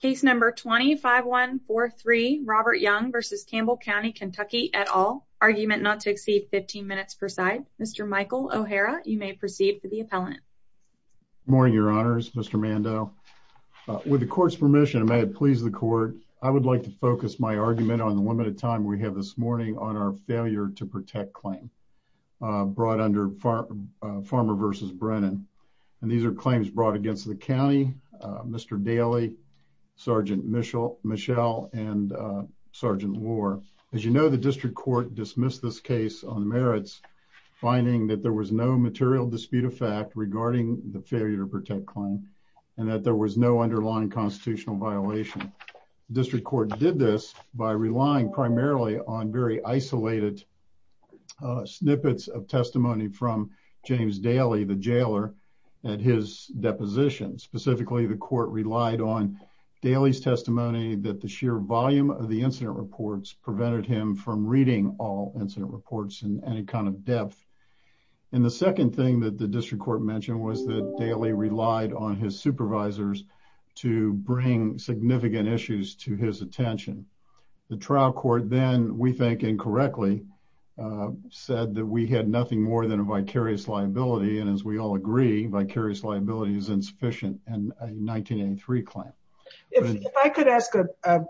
Case number 25143 Robert Young v. Campbell County KY et al. Argument not to exceed 15 minutes per side. Mr. Michael O'Hara, you may proceed for the appellant. Good morning, your honors. Mr. Mando, with the court's permission, and may it please the court, I would like to focus my argument on the limited time we have this morning on our failure to protect claim brought under Farmer v. Brennan. These are claims brought against the county, Mr. Daly, Sgt. Michelle, and Sgt. Lohr. As you know, the district court dismissed this case on merits, finding that there was no material dispute of fact regarding the failure to protect claim, and that there was no underlying constitutional violation. The district court did this by relying primarily on very isolated snippets of testimony from James Daly, the jailer, at his deposition. Specifically, the court relied on Daly's testimony that the sheer volume of the incident reports prevented him from reading all incident reports in any kind of depth. And the second thing that the district court mentioned was that Daly relied on his supervisors to bring significant issues to his attention. The trial court then, we think incorrectly, said that we had nothing more than a vicarious liability, and as we all agree, vicarious liability is insufficient in a 1983 claim. If I could ask a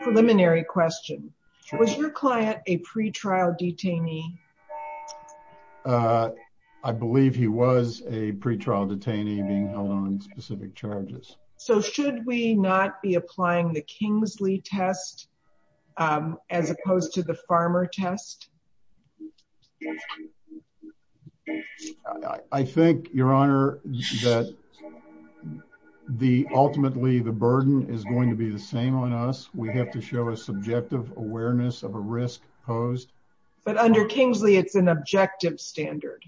preliminary question, was your client a pretrial detainee? I believe he was a pretrial detainee being held on specific charges. So should we not be applying the Kingsley test as opposed to the Farmer test? I think, Your Honor, that ultimately the burden is going to be the same on us. We have to show a subjective awareness of a risk posed. But under Kingsley, it's an objective standard.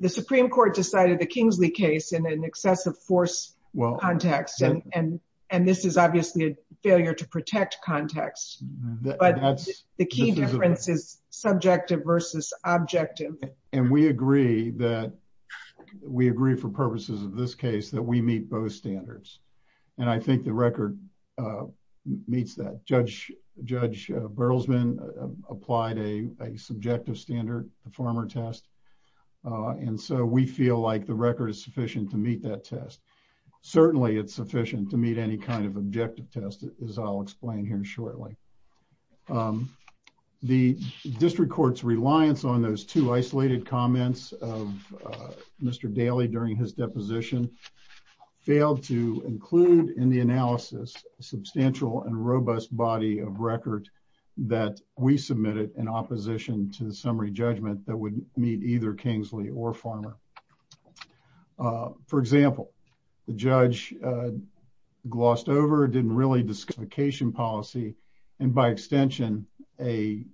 The Supreme Court decided the Kingsley case in an excessive force context, and this is obviously a failure to protect context. But the key difference is subjective versus objective. And we agree that we agree for purposes of this case that we meet both standards. And I think the record meets that. Judge Berlesman applied a subjective standard, the Farmer test, and so we feel like the record is sufficient to meet that test. Certainly, it's sufficient to meet any kind of objective test, as I'll explain here shortly. The district court's reliance on those two isolated comments of Mr. Daley during his deposition failed to include in the analysis substantial and robust body of record that we submitted in opposition to the summary judgment that would meet either Kingsley or Farmer. For example, the judge glossed over, didn't really discuss classification policy, and by extension, a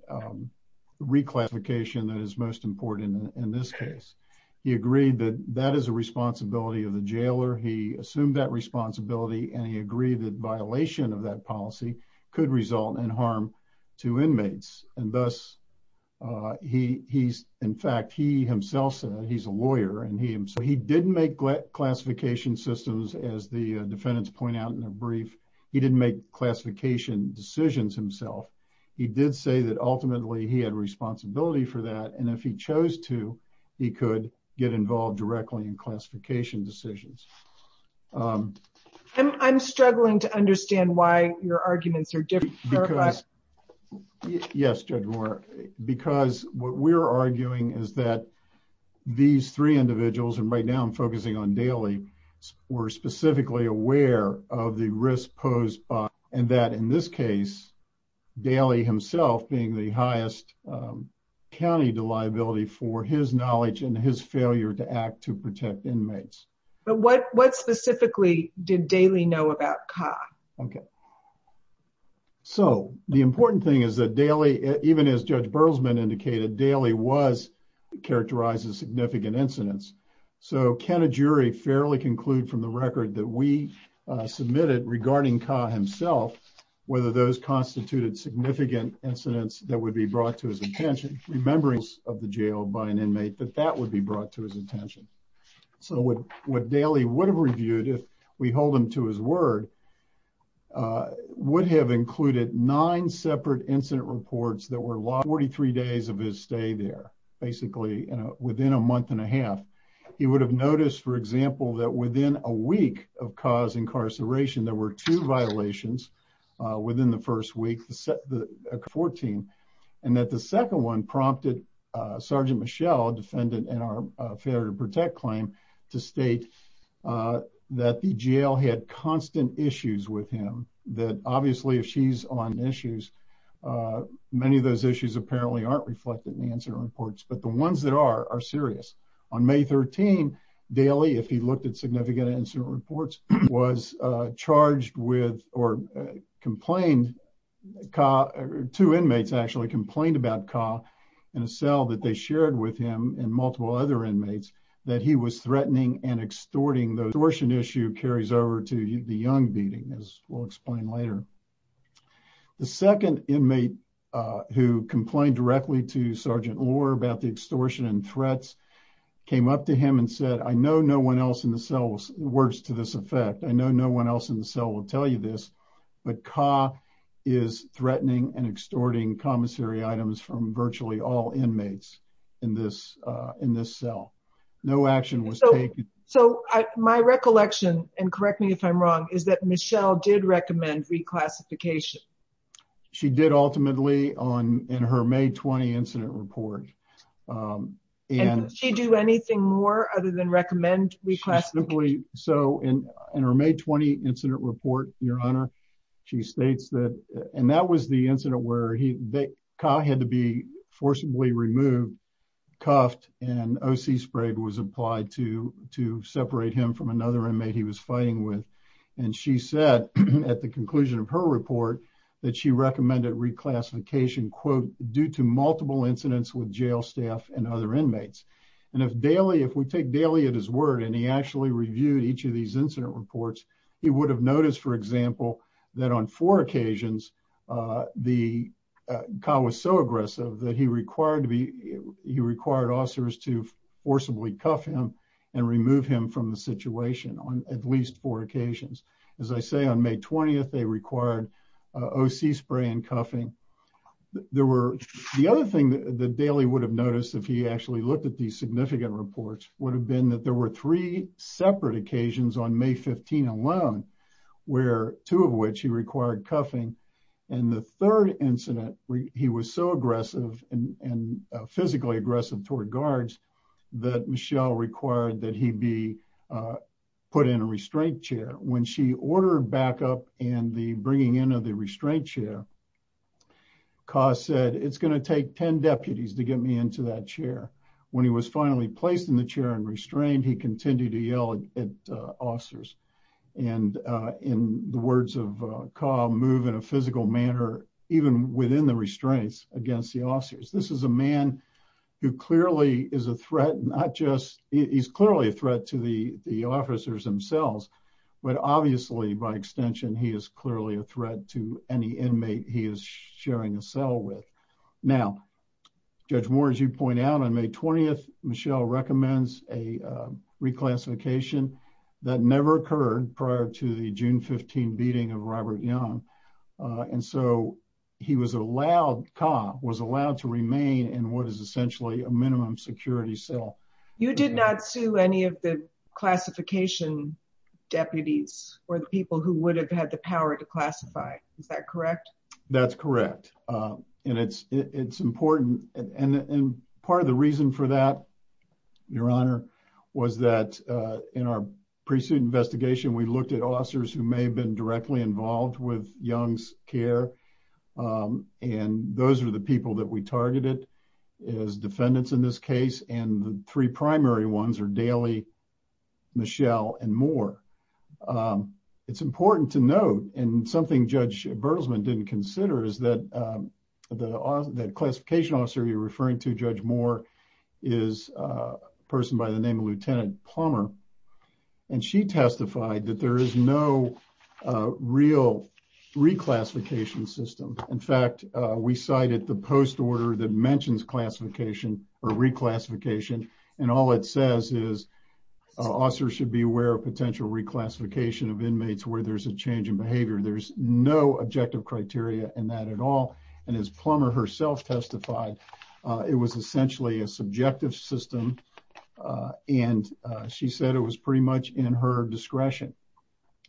reclassification that is most important in this case. He agreed that that is a responsibility of the jailer. He assumed that responsibility, and he agreed that violation of that policy could result in harm to inmates. And thus, in fact, he himself said, he's a lawyer, and so he didn't make classification systems, as the defendants point out in the brief. He didn't make classification decisions himself. He did say that ultimately, he had responsibility for that, and if he chose to, he could get involved directly in classification decisions. I'm struggling to understand why your arguments are different. Yes, Judge Moore, because what we're arguing is that these three individuals, and right now I'm focusing on Daley, were specifically aware of the risk posed by, and that in this case, Daley himself being the highest county liability for his knowledge and his failure to act to protect inmates. But what specifically did Daley know about Kha? Okay, so the important thing is that Daley, even as Judge Berzman indicated, Daley was, characterizes significant incidents. So can a jury fairly conclude from the record that we submitted regarding Kha himself, whether those constituted significant incidents that would be brought to his attention, remembrance of the jail by an inmate, that that would be brought to his attention. So what Daley would have reviewed, if we hold him to his word, would have included nine separate incident reports that were lost 43 days of his stay there, basically within a month and a half. He would have noticed, for example, that within a week of Kha's incarceration, there were two violations within the first week, 14, and that the second one prompted Sergeant Michelle, defendant in our failure to protect claim, to state that the jail had constant issues with him. That obviously, if she's on issues, many of those issues apparently aren't reflected in the incident reports, but the ones that are, are serious. On May 13, Daley, if he looked at significant incident reports, was charged with, or complained, Kha, two inmates actually complained about Kha in a cell that they shared with him and multiple other inmates, that he was threatening and extorting. The extortion issue carries over to the Young beating, as we'll explain later. The second inmate who complained directly to Sergeant Lohr about the extortion and threats, came up to him and said, I know no one else in the cell works to this effect. I know no one else in the cell will tell you this, but Kha is threatening and extorting commissary items from virtually all inmates in this cell. So my recollection, and correct me if I'm wrong, is that Michelle did recommend reclassification. She did ultimately in her May 20 incident report. And did she do anything more other than recommend reclassification? So in her May 20 incident report, your honor, she states that, and that was the incident where Kha had to be forcibly removed, cuffed, and OC spray was applied to separate him from another inmate he was fighting with. And she said at the conclusion of her report that she recommended reclassification, due to multiple incidents with jail staff and other inmates. And if we take daily at his word, and he actually reviewed each of these incident reports, he would have noticed, for example, that on four occasions, the Kha was so aggressive that he required officers to forcibly cuff him and remove him from the situation on at least four occasions. As I say, on May 20th, they required OC spray and cuffing. There were the other thing that the daily would have noticed if he actually looked at these significant reports, would have been that there were three separate occasions on May 15 alone, where two of which he required cuffing. And the third incident, he was so aggressive and physically aggressive toward guards, that Michelle required that he be put in a restraint chair. When she ordered backup and the bringing in of the restraint chair, Kha said, it's going to take 10 deputies to get me into that chair. When he was finally placed in the chair and restrained, he continued to yell at officers. And in the words of Kha, move in a physical manner, even within the restraints against the officers. This is a man who clearly is a threat, not just, he's clearly a threat to the officers themselves. But obviously, by extension, he is clearly a threat to any inmate he is sharing a cell with. Now, Judge Moore, as you point out on May 20th, Michelle recommends a reclassification that never occurred prior to the June 15 beating of Robert Young. And so he was allowed, Kha was allowed to remain in what is essentially a minimum security cell. You did not sue any of the classification deputies or the people who would have had the power to classify. Is that correct? That's correct. And it's important. And part of the reason for that, your honor, was that in our pre-suit investigation, we looked at officers who may have been directly involved with Young's care. And those are the people that we targeted as defendants in this case. And the three primary ones are Daly, Michelle, and Moore. It's important to note, and something Judge Bertelsman didn't consider, is that the classification officer you're referring to, Judge Moore, is a person by the name of Lieutenant Plummer. And she testified that there is no real reclassification system. In fact, we cited the post order that mentions classification or reclassification. And all it says is officers should be aware of potential reclassification of inmates where there's a change in behavior. There's no objective criteria in that at all. And as Plummer herself testified, it was essentially a subjective system. And she said it was pretty much in her discretion.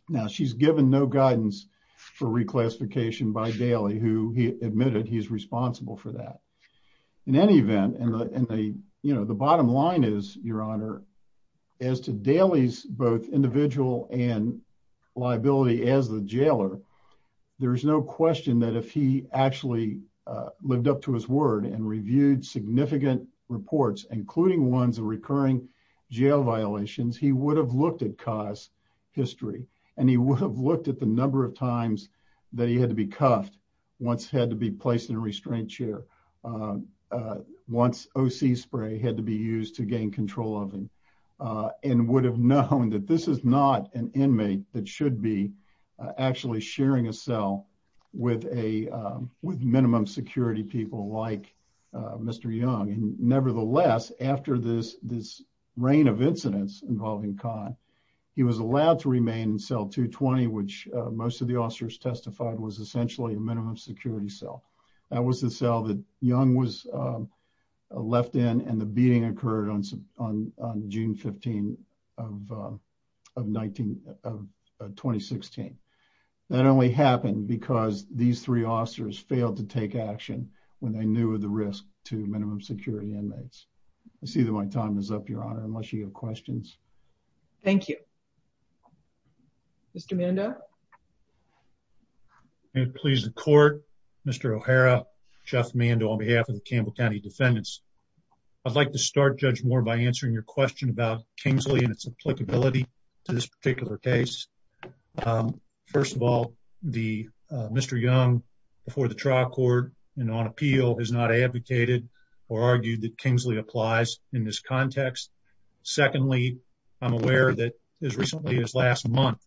Now, she's given no guidance for reclassification by Daly, who admitted he's responsible for that. In any event, and the bottom line is, Your Honor, as to Daly's both individual and liability as the jailer, there is no question that if he actually lived up to his word and reviewed significant reports, including ones of recurring jail violations, he would have looked at Ka's history. And he would have looked at the number of times that he had to be cuffed once he had to be placed in a restraint chair. And once OC spray had to be used to gain control of him. And would have known that this is not an inmate that should be actually sharing a cell with minimum security people like Mr. Young. And nevertheless, after this reign of incidents involving Ka, he was allowed to remain in cell 220, which most of the officers testified was essentially a minimum security cell. That was the cell that Young was left in, and the beating occurred on June 15 of 2016. That only happened because these three officers failed to take action when they knew of the risk to minimum security inmates. I see that my time is up, Your Honor, unless you have questions. Thank you. Mr. Mando. May it please the court, Mr. O'Hara, Jeff Mando on behalf of the Campbell County Defendants. I'd like to start, Judge Moore, by answering your question about Kingsley and its applicability to this particular case. First of all, Mr. Young, before the trial court and on appeal, has not advocated or argued that Kingsley applies in this context. Secondly, I'm aware that as recently as last month,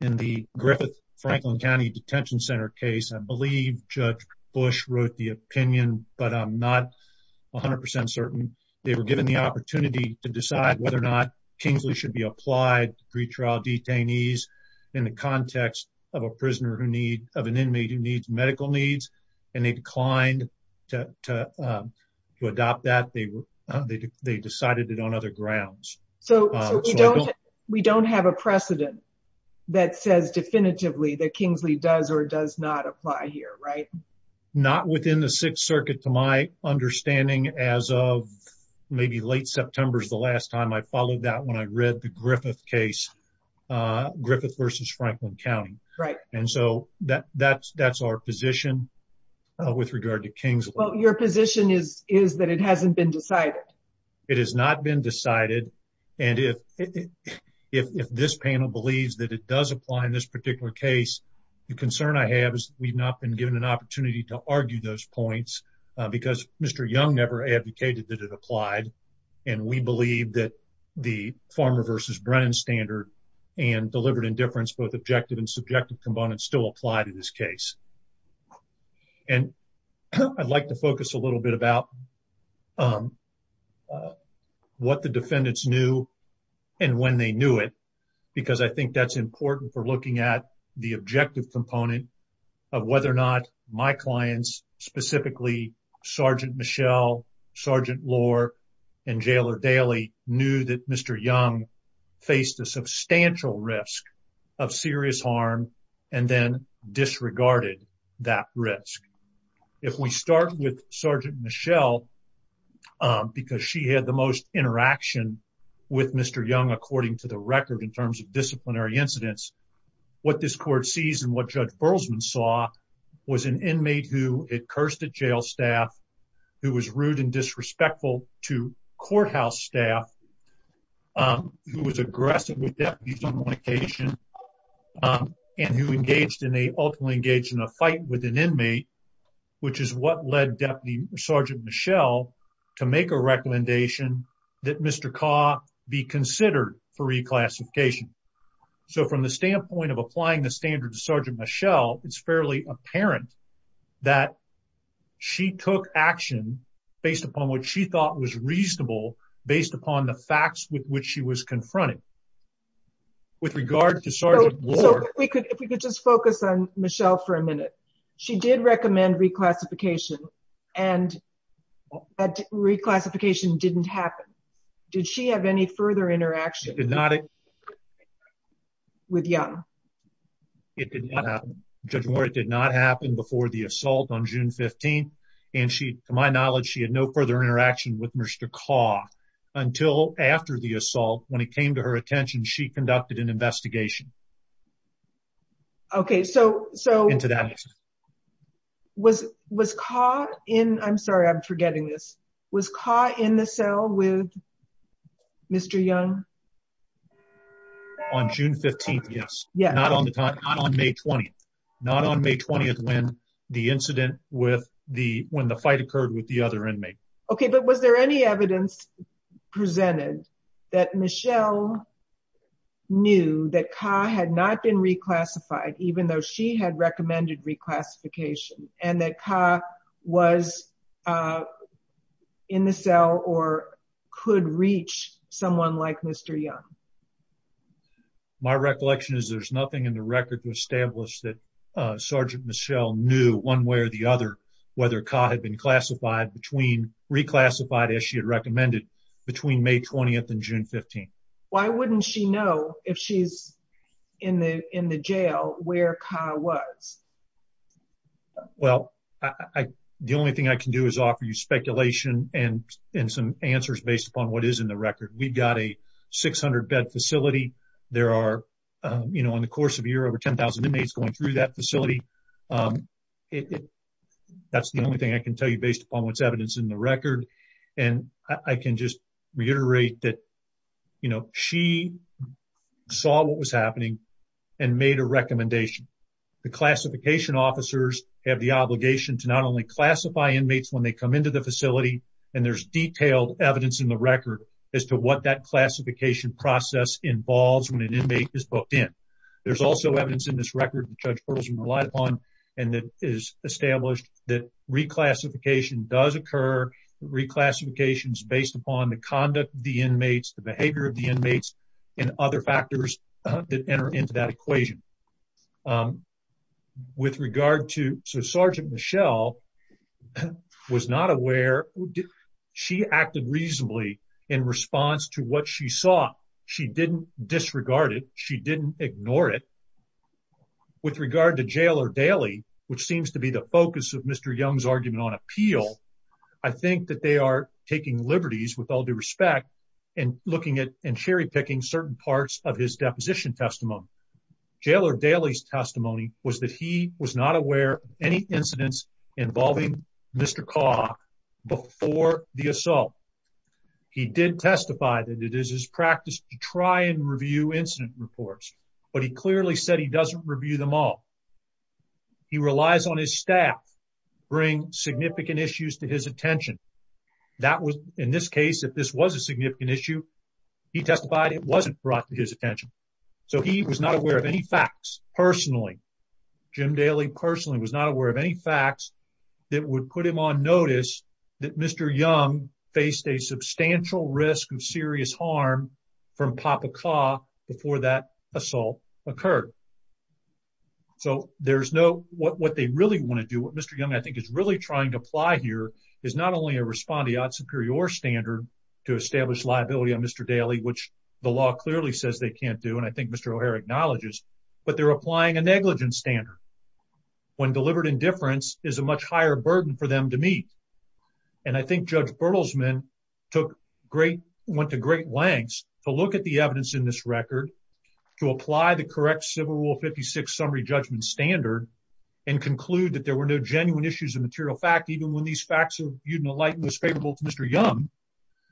in the Griffith Franklin County Detention Center case, I believe Judge Bush wrote the opinion, but I'm not 100% certain. They were given the opportunity to decide whether or not Kingsley should be applied to pretrial detainees in the context of an inmate who needs medical needs, and they declined to adopt that. They decided it on other grounds. So we don't have a precedent that says definitively that Kingsley does or does not apply here, right? Not within the Sixth Circuit, to my understanding, as of maybe late September is the last time I followed that when I read the Griffith case, Griffith versus Franklin County. Right. And so that's our position with regard to Kingsley. Well, your position is that it hasn't been decided. It has not been decided. And if this panel believes that it does apply in this particular case, the concern I have is we've not been given an opportunity to argue those points because Mr. Young never advocated that it applied. And we believe that the Farmer versus Brennan standard and deliberate indifference, both objective and subjective components still apply to this case. And I'd like to focus a little bit about what the defendants knew and when they knew it, because I think that's important for looking at the objective component of whether or not my clients, specifically Sergeant Michelle, Sergeant Lohr, and Jailer Daley knew that Mr. Young faced a substantial risk of serious harm and then disregarded that risk. If we start with Sergeant Michelle, because she had the most interaction with Mr. Young, according to the record, in terms of disciplinary incidents, what this court sees and what Judge Berlesman saw was an inmate who had cursed at jail staff, who was rude and disrespectful to courthouse staff, who was aggressive with deputies on one occasion, um, and who engaged in a, ultimately engaged in a fight with an inmate, which is what led Deputy Sergeant Michelle to make a recommendation that Mr. Kaugh be considered for reclassification. So from the standpoint of applying the standard to Sergeant Michelle, it's fairly apparent that she took action based upon what she thought was reasonable, based upon the facts with which she was confronted. With regard to Sergeant Lohr... So if we could just focus on Michelle for a minute. She did recommend reclassification, and that reclassification didn't happen. Did she have any further interaction... She did not... ...with Young? It did not happen. Judge Lohr, it did not happen before the assault on June 15th, and she, to my knowledge, she had no further interaction with Mr. Kaugh until after the assault, when it came to her attention, she conducted an investigation... Okay, so, so... ...into that incident. Was, was Kaugh in... I'm sorry, I'm forgetting this. Was Kaugh in the cell with Mr. Young? On June 15th, yes. Yeah. Not on the time, not on May 20th. Not on May 20th when the incident with the, when the fight occurred with the other inmate. Okay, but was there any evidence presented that Michelle knew that Kaugh had not been reclassified, even though she had recommended reclassification, and that Kaugh was in the cell or could reach someone like Mr. Young? My recollection is there's nothing in the record to establish that Sergeant Michelle knew, one way or the other, whether Kaugh had been classified between, reclassified as she had recommended between May 20th and June 15th. Why wouldn't she know if she's in the, in the jail where Kaugh was? Well, I, the only thing I can do is offer you speculation and, and some answers based upon what is in the record. We've got a 600-bed facility. There are, you know, in the course of a year, over 10,000 inmates going through that facility. It, it, that's the only thing I can tell you based upon what's evidence in the record. And I can just reiterate that, you know, she saw what was happening and made a recommendation. The classification officers have the obligation to not only classify inmates when they come into the facility, and there's detailed evidence in the record as to what that classification process involves when an inmate is booked in. There's also evidence in this record, Judge Berzman relied upon, and that is established that reclassification does occur. Reclassification is based upon the conduct of the inmates, the behavior of the inmates, and other factors that enter into that equation. With regard to, so Sergeant Michelle was not aware, she acted reasonably in response to what she saw. She didn't disregard it. She didn't ignore it. With regard to Jailer Daly, which seems to be the focus of Mr. Young's argument on appeal, I think that they are taking liberties with all due respect and looking at and cherry picking certain parts of his deposition testimony. Jailer Daly's testimony was that he was not aware of any incidents involving Mr. Kaw before the assault. He did testify that it is his practice to try and review incident reports, but he clearly said he doesn't review them all. He relies on his staff to bring significant issues to his attention. In this case, if this was a significant issue, he testified it wasn't brought to his attention. So he was not aware of any facts personally. Jim Daly personally was not aware of any facts that would put him on notice that Mr. Young faced a substantial risk of serious harm from Papa Kaw before that assault occurred. So there's no, what they really want to do, what Mr. Young, I think is really trying to apply here is not only a respondeat superior standard to establish liability on Mr. Daly, which the law clearly says they can't do. And I think Mr. O'Hare acknowledges, but they're applying a negligence standard. When delivered indifference is a much higher burden for them to meet. And I think Judge Bertelsman took great, went to great lengths to look at the evidence in this record to apply the correct civil rule 56 summary judgment standard and conclude that there were no genuine issues of material fact, even when these facts of euthanolight was favorable to Mr. Young,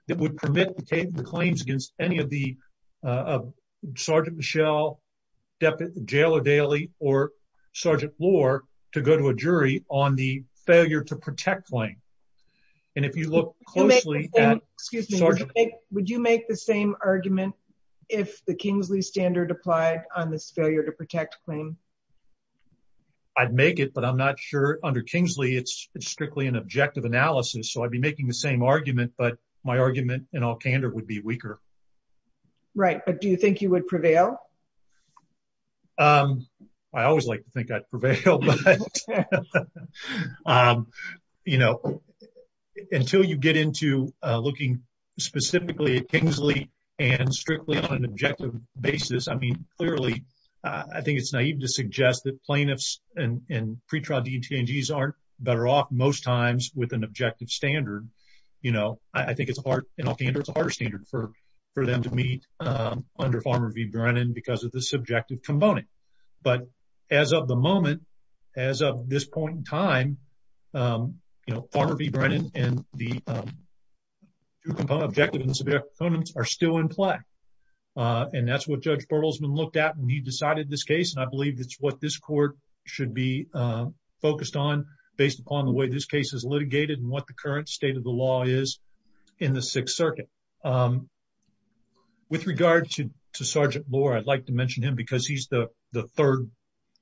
that would permit the claims against any of the Sergeant Michelle, Deputy Jailer Daly, or Sergeant Lohr to go to a jury on the failure to protect claim. And if you look closely at- Would you make the same argument if the Kingsley standard applied on this failure to protect claim? I'd make it, but I'm not sure under Kingsley, it's strictly an objective analysis. So I'd be making the same argument, but my argument in all candor would be weaker. Right, but do you think you would prevail? I always like to think I'd prevail, but, you know, until you get into looking specifically at Kingsley and strictly on an objective basis, I mean, clearly, I think it's naive to suggest that plaintiffs and pretrial DTNGs aren't better off most times with an objective standard. You know, I think it's hard, in all candor, it's a harder standard for them to meet under Farmer v. Brennan because of the subjective component. But as of the moment, as of this point in time, you know, Farmer v. Brennan and the two components, objective and subjective components are still in play. And that's what Judge Berlesman looked at when he decided this case. And I believe that's what this court should be focused on based upon the way this case is litigated and what the current state of the law is in the Sixth Circuit. With regard to Sergeant Lohr, I'd like to mention him because he's the third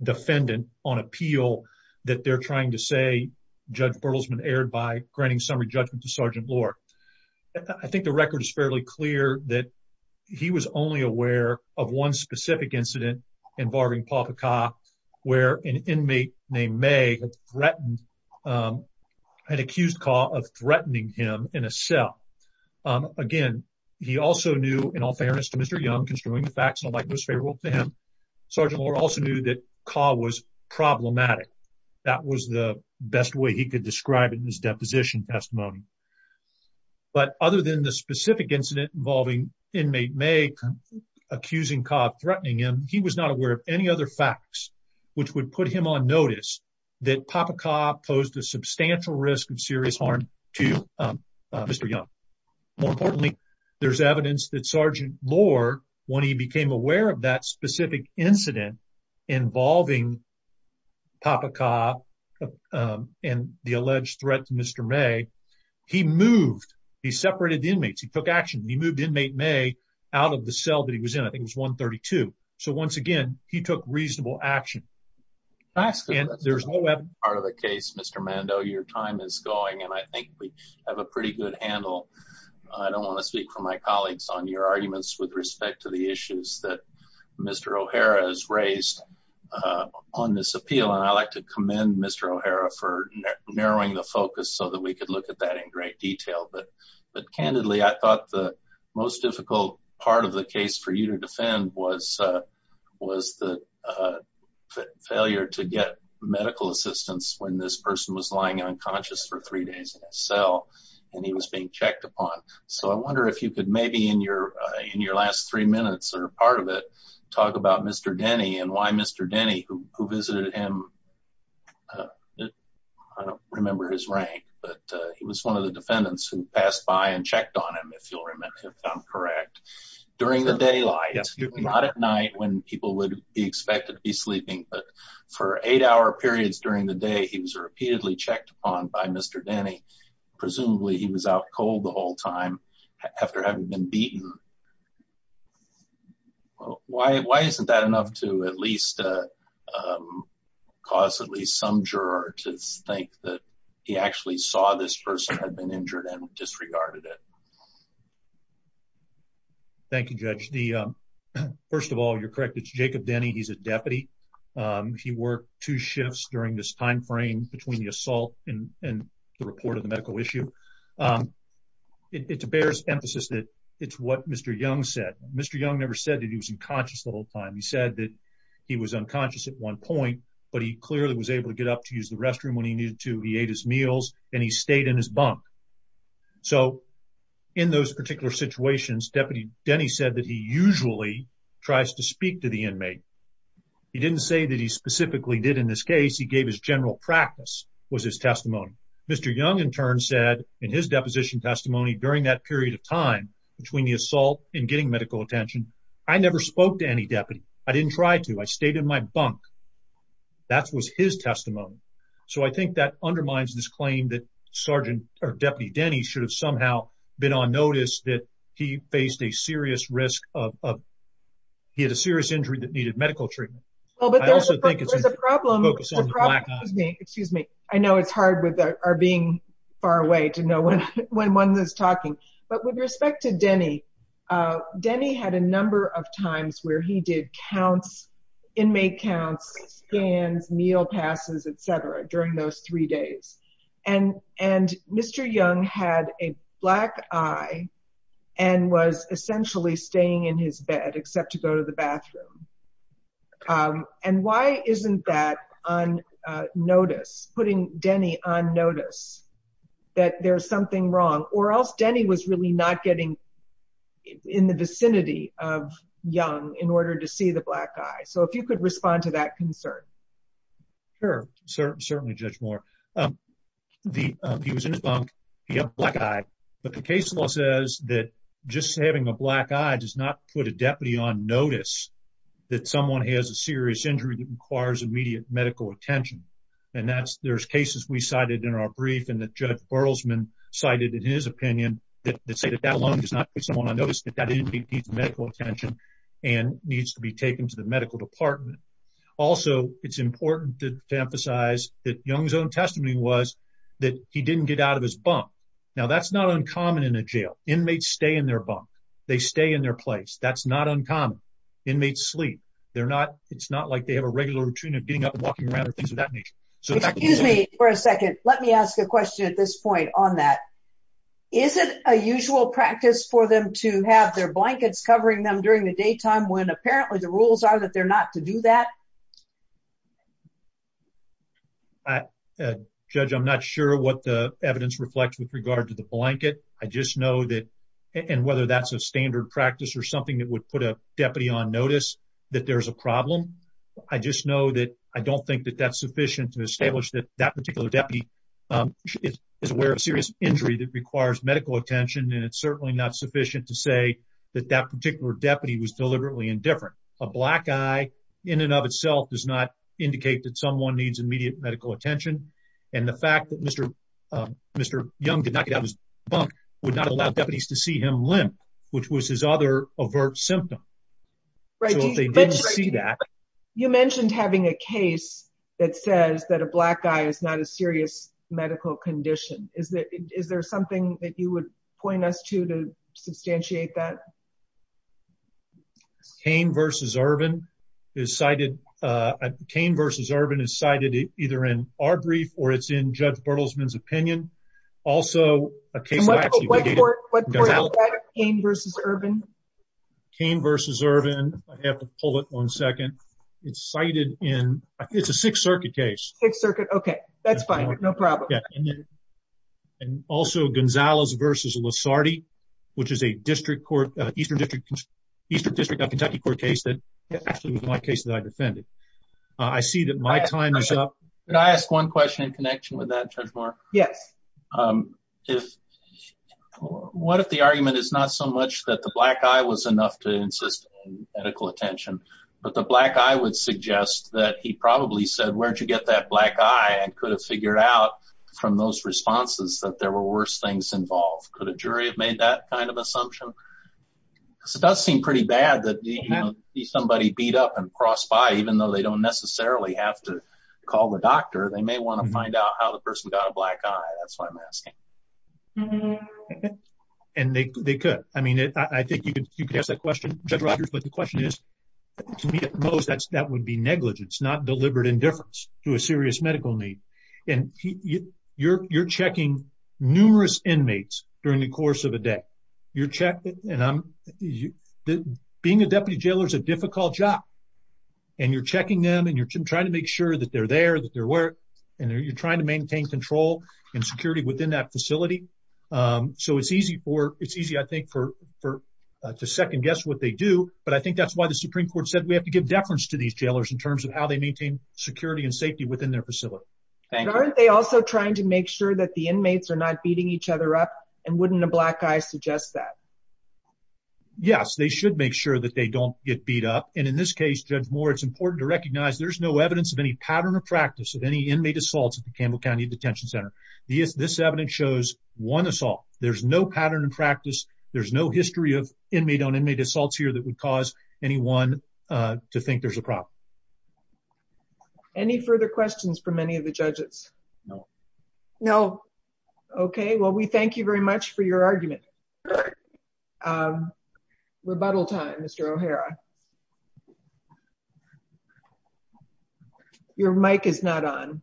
defendant on appeal that they're trying to say Judge Berlesman erred by granting summary judgment to Sergeant Lohr. I think the record is fairly clear that he was only aware of one specific incident involving Papa Kha where an inmate named May had threatened, had accused Kha of threatening him in a cell. Again, he also knew, in all fairness to Mr. Young, considering the facts, nobody was favorable to him. Sergeant Lohr also knew Kha was problematic. That was the best way he could describe it in his deposition testimony. But other than the specific incident involving inmate May accusing Kha of threatening him, he was not aware of any other facts which would put him on notice that Papa Kha posed a substantial risk of serious harm to Mr. Young. More importantly, there's evidence that Sergeant Lohr, when he became aware of that specific incident involving Papa Kha and the alleged threat to Mr. May, he moved, he separated inmates, he took action, he moved inmate May out of the cell that he was in, I think it was 132. So once again, he took reasonable action. And there's no evidence- That's part of the case, Mr. Mando. Your time is going and I think we have a pretty good handle. I don't want to speak for my colleagues on your arguments with respect to the issues that Mr. O'Hara has raised on this appeal. And I'd like to commend Mr. O'Hara for narrowing the focus so that we could look at that in great detail. But candidly, I thought the most difficult part of the case for you to defend was the failure to get medical assistance when this person was lying unconscious for three days in a cell and he was being checked upon. So I wonder if you could maybe in your last three minutes or part of it, talk about Mr. Denny and why Mr. Denny, who visited him, I don't remember his rank, but he was one of the defendants who passed by and checked on him, if I'm correct. During the daylight, not at night when people would be expected to be sleeping, but for eight hour periods during the day, he was repeatedly checked upon by Mr. Denny. Presumably he was out cold the whole time after having been beaten. Why isn't that enough to at least cause at least some juror to think that he actually saw this person had been injured and disregarded it? Thank you, Judge. First of all, you're correct. It's Jacob Denny. He's a deputy. He worked two shifts during this timeframe between the assault and the report of the medical issue. It bears emphasis that it's what Mr. Young said. Mr. Young never said that he was unconscious the whole time. He said that he was unconscious at one point, but he clearly was able to get up to use the restroom when he needed to. He ate his meals and he stayed in his bunk. So in those particular situations, Deputy Denny said that he usually tries to speak to the inmate. He didn't say that he specifically did in this case. He gave his general practice was his testimony. Mr. Young in turn said in his deposition testimony during that period of time between the assault and getting medical attention, I never spoke to any deputy. I didn't try to. I stayed in my bunk. That was his testimony. So I think that undermines this claim that Sergeant or Deputy Denny should have somehow been on notice that he faced a serious risk of he had a serious injury that needed medical treatment. Well, but there's a problem. Excuse me. I know it's hard with our being far away to know when one is talking, but with respect to Denny, Denny had a number of times where he did counts, inmate counts, scans, meal passes, etc. during those three days. And, and Mr. Young had a black eye and was essentially staying in his bed, except to go to the bathroom. And why isn't that on notice, putting Denny on notice that there's something wrong or else Denny was really not getting in the vicinity of Young in order to see the black eye. So if you could respond to that concern. Sure, certainly Judge Moore. He was in his bunk. He had a black eye. But the case law says that just having a black eye does not put a deputy on notice that someone has a serious injury that requires immediate medical attention. And that's, there's cases we cited in our brief and that Judge Burlesman cited in his opinion that say that that alone does not put someone on notice that that inmate needs medical attention and needs to be taken to the medical department. Also, it's important to emphasize that Young's own testimony was that he didn't get out of his bunk. Now that's not uncommon in a jail. Inmates stay in their bunk. They stay in their place. That's not uncommon. Inmates sleep. They're not, it's not like they have a regular routine of getting up and walking around or things of that nature. So excuse me for a second. Let me ask a question at this point on that. Is it a usual practice for them to have their blankets covering them during the daytime when apparently the rules are that they're not to do that? I, Judge, I'm not sure what the evidence reflects with regard to the blanket. I just know that, and whether that's a standard practice or something that would put a deputy on notice that there's a problem. I just know that I don't think that that's sufficient to establish that that particular deputy is aware of serious injury that requires medical attention. And it's certainly not sufficient to say that that particular deputy was deliberately indifferent. A black guy in and of itself does not indicate that someone needs immediate medical attention. And the fact that Mr. Young did not get out of his bunk would not allow deputies to see him limp, which was his other overt symptom. So if they didn't see that. You mentioned having a case that says that a black guy is not a serious medical condition. Is there something that you would point us to to substantiate that? Cain versus Ervin is cited. Cain versus Ervin is cited either in our brief or it's in Judge Bertelsman's opinion. Also, a case that actually What court is that? Cain versus Ervin? Cain versus Ervin. I have to pull it one second. It's cited in, it's a Sixth Circuit case. Sixth Circuit. OK, that's fine. No problem. And also Gonzalez versus Lasardi, which is a district court, Eastern District, Eastern District of Kentucky court case that actually was my case that I defended. I see that my time is up. Can I ask one question in connection with that, Judge Moore? Yes. What if the argument is not so much that the black guy was enough to insist on medical attention, but the black guy would suggest that he probably said, where'd you get that black guy and could have figured out from those responses that there were worse things involved? Could a jury have made that kind of assumption? Because it does seem pretty bad that somebody beat up and crossed by, even though they don't necessarily have to call the doctor. They may want to find out how the person got a black eye. That's why I'm asking. And they could. I mean, I think you could ask that question, Judge Rogers. But the question is, to me at most, that would be negligence, not deliberate indifference to a serious medical need. And you're checking numerous inmates during the course of a day. Being a deputy jailer is a difficult job. And you're checking them and you're trying to make sure that they're there, that they're work. And you're trying to maintain control and security within that facility. So it's easy, I think, to second guess what they do. But I think that's why the Supreme Court said we have to give deference to these jailers in terms of how they maintain security and safety within their facility. Aren't they also trying to make sure that the inmates are not beating each other up? And wouldn't a black eye suggest that? Yes, they should make sure that they don't get beat up. And in this case, Judge Moore, it's important to recognize there's no evidence of any pattern of practice of any inmate assaults at the Campbell County Detention Center. This evidence shows one assault. There's no pattern of practice. There's no history of inmate on inmate assaults here that would cause anyone to think there's a problem. Any further questions from any of the judges? No. No. Okay, well, we thank you very much for your argument. Rebuttal time, Mr. O'Hara. Your mic is not on.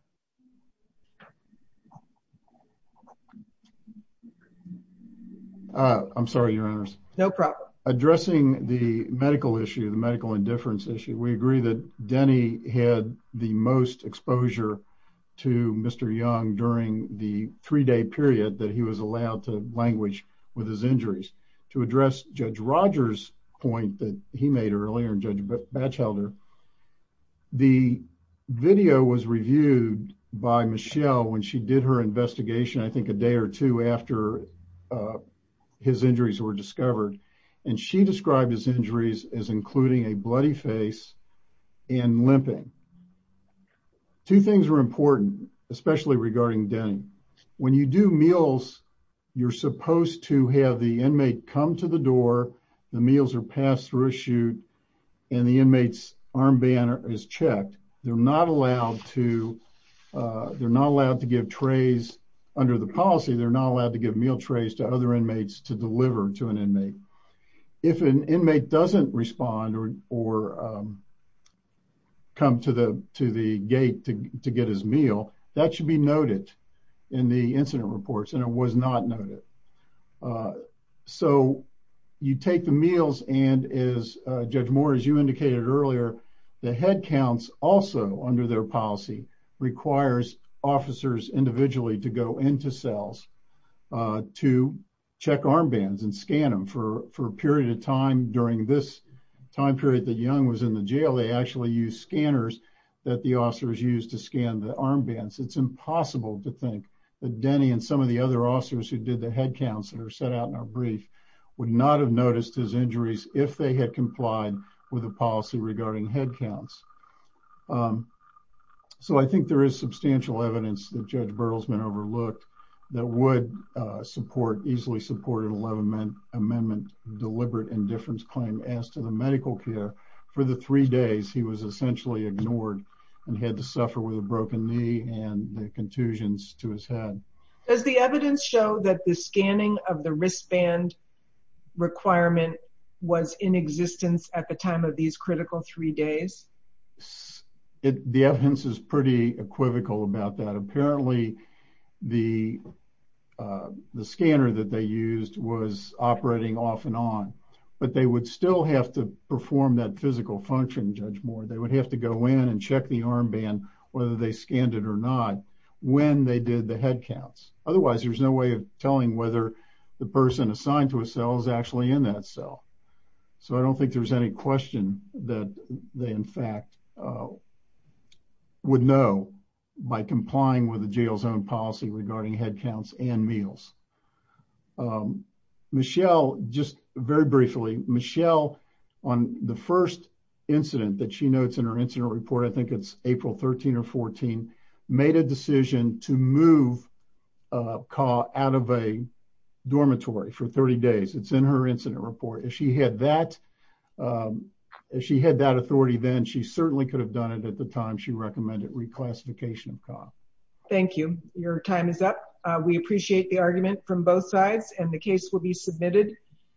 I'm sorry, Your Honors. No problem. Addressing the medical issue, the medical indifference issue, we agree that Denny had the most exposure to Mr. Young during the three-day period that he was allowed to language with his injuries. To address Judge Rogers' point that he made earlier, Judge Batchelder, the video was reviewed by Michelle when she did her investigation, I think a day or two after his injuries were discovered. And she described his injuries as including a bloody face and limping. Two things were important, especially regarding Denny. When you do meals, you're supposed to have the inmate come to the door, the meals are passed through a chute, and the inmate's arm band is checked. They're not allowed to give trays. Under the policy, they're not allowed to give meal trays to other inmates to deliver to an inmate. If an inmate doesn't respond or come to the gate to get his meal, that should be noted in the incident reports and it was not noted. So you take the meals and as Judge Moore, as you indicated earlier, the head counts also under their policy requires officers individually to go into cells to check armbands and scan them for a period of time during this time period that Young was in the jail. They actually use scanners that the officers use to scan the armbands. It's impossible to think that Denny and some of the other officers who did the head counts that are set out in our brief would not have noticed his injuries if they had complied with a policy regarding head counts. So I think there is substantial evidence that Judge Bertelsmann overlooked that would support, easily support an amendment deliberate indifference claim as to the medical care. For the three days, he was essentially ignored and had to suffer with a broken knee and the contusions to his head. Does the evidence show that the scanning of the wristband requirement was in existence at the time of these critical three days? The evidence is pretty equivocal about that. Apparently the scanner that they used was operating off and on, but they would still have to perform that physical function, Judge Moore. They would have to go in and check the armband whether they scanned it or not when they did the head counts. Otherwise, there's no way of telling whether the person assigned to a cell is actually in that cell. So I don't think there's any question that they in fact would know by complying with the jail's own policy regarding head counts and meals. Michelle, just very briefly, Michelle, on the first incident that she notes in her incident report, I think it's April 13 or 14, made a decision to move Ka out of a dormitory for 30 days. It's in her incident report. If she had that authority then, she certainly could have done it at the time she recommended reclassification of Ka. Thank you. Your time is up. We appreciate the argument from both sides and the case will be submitted.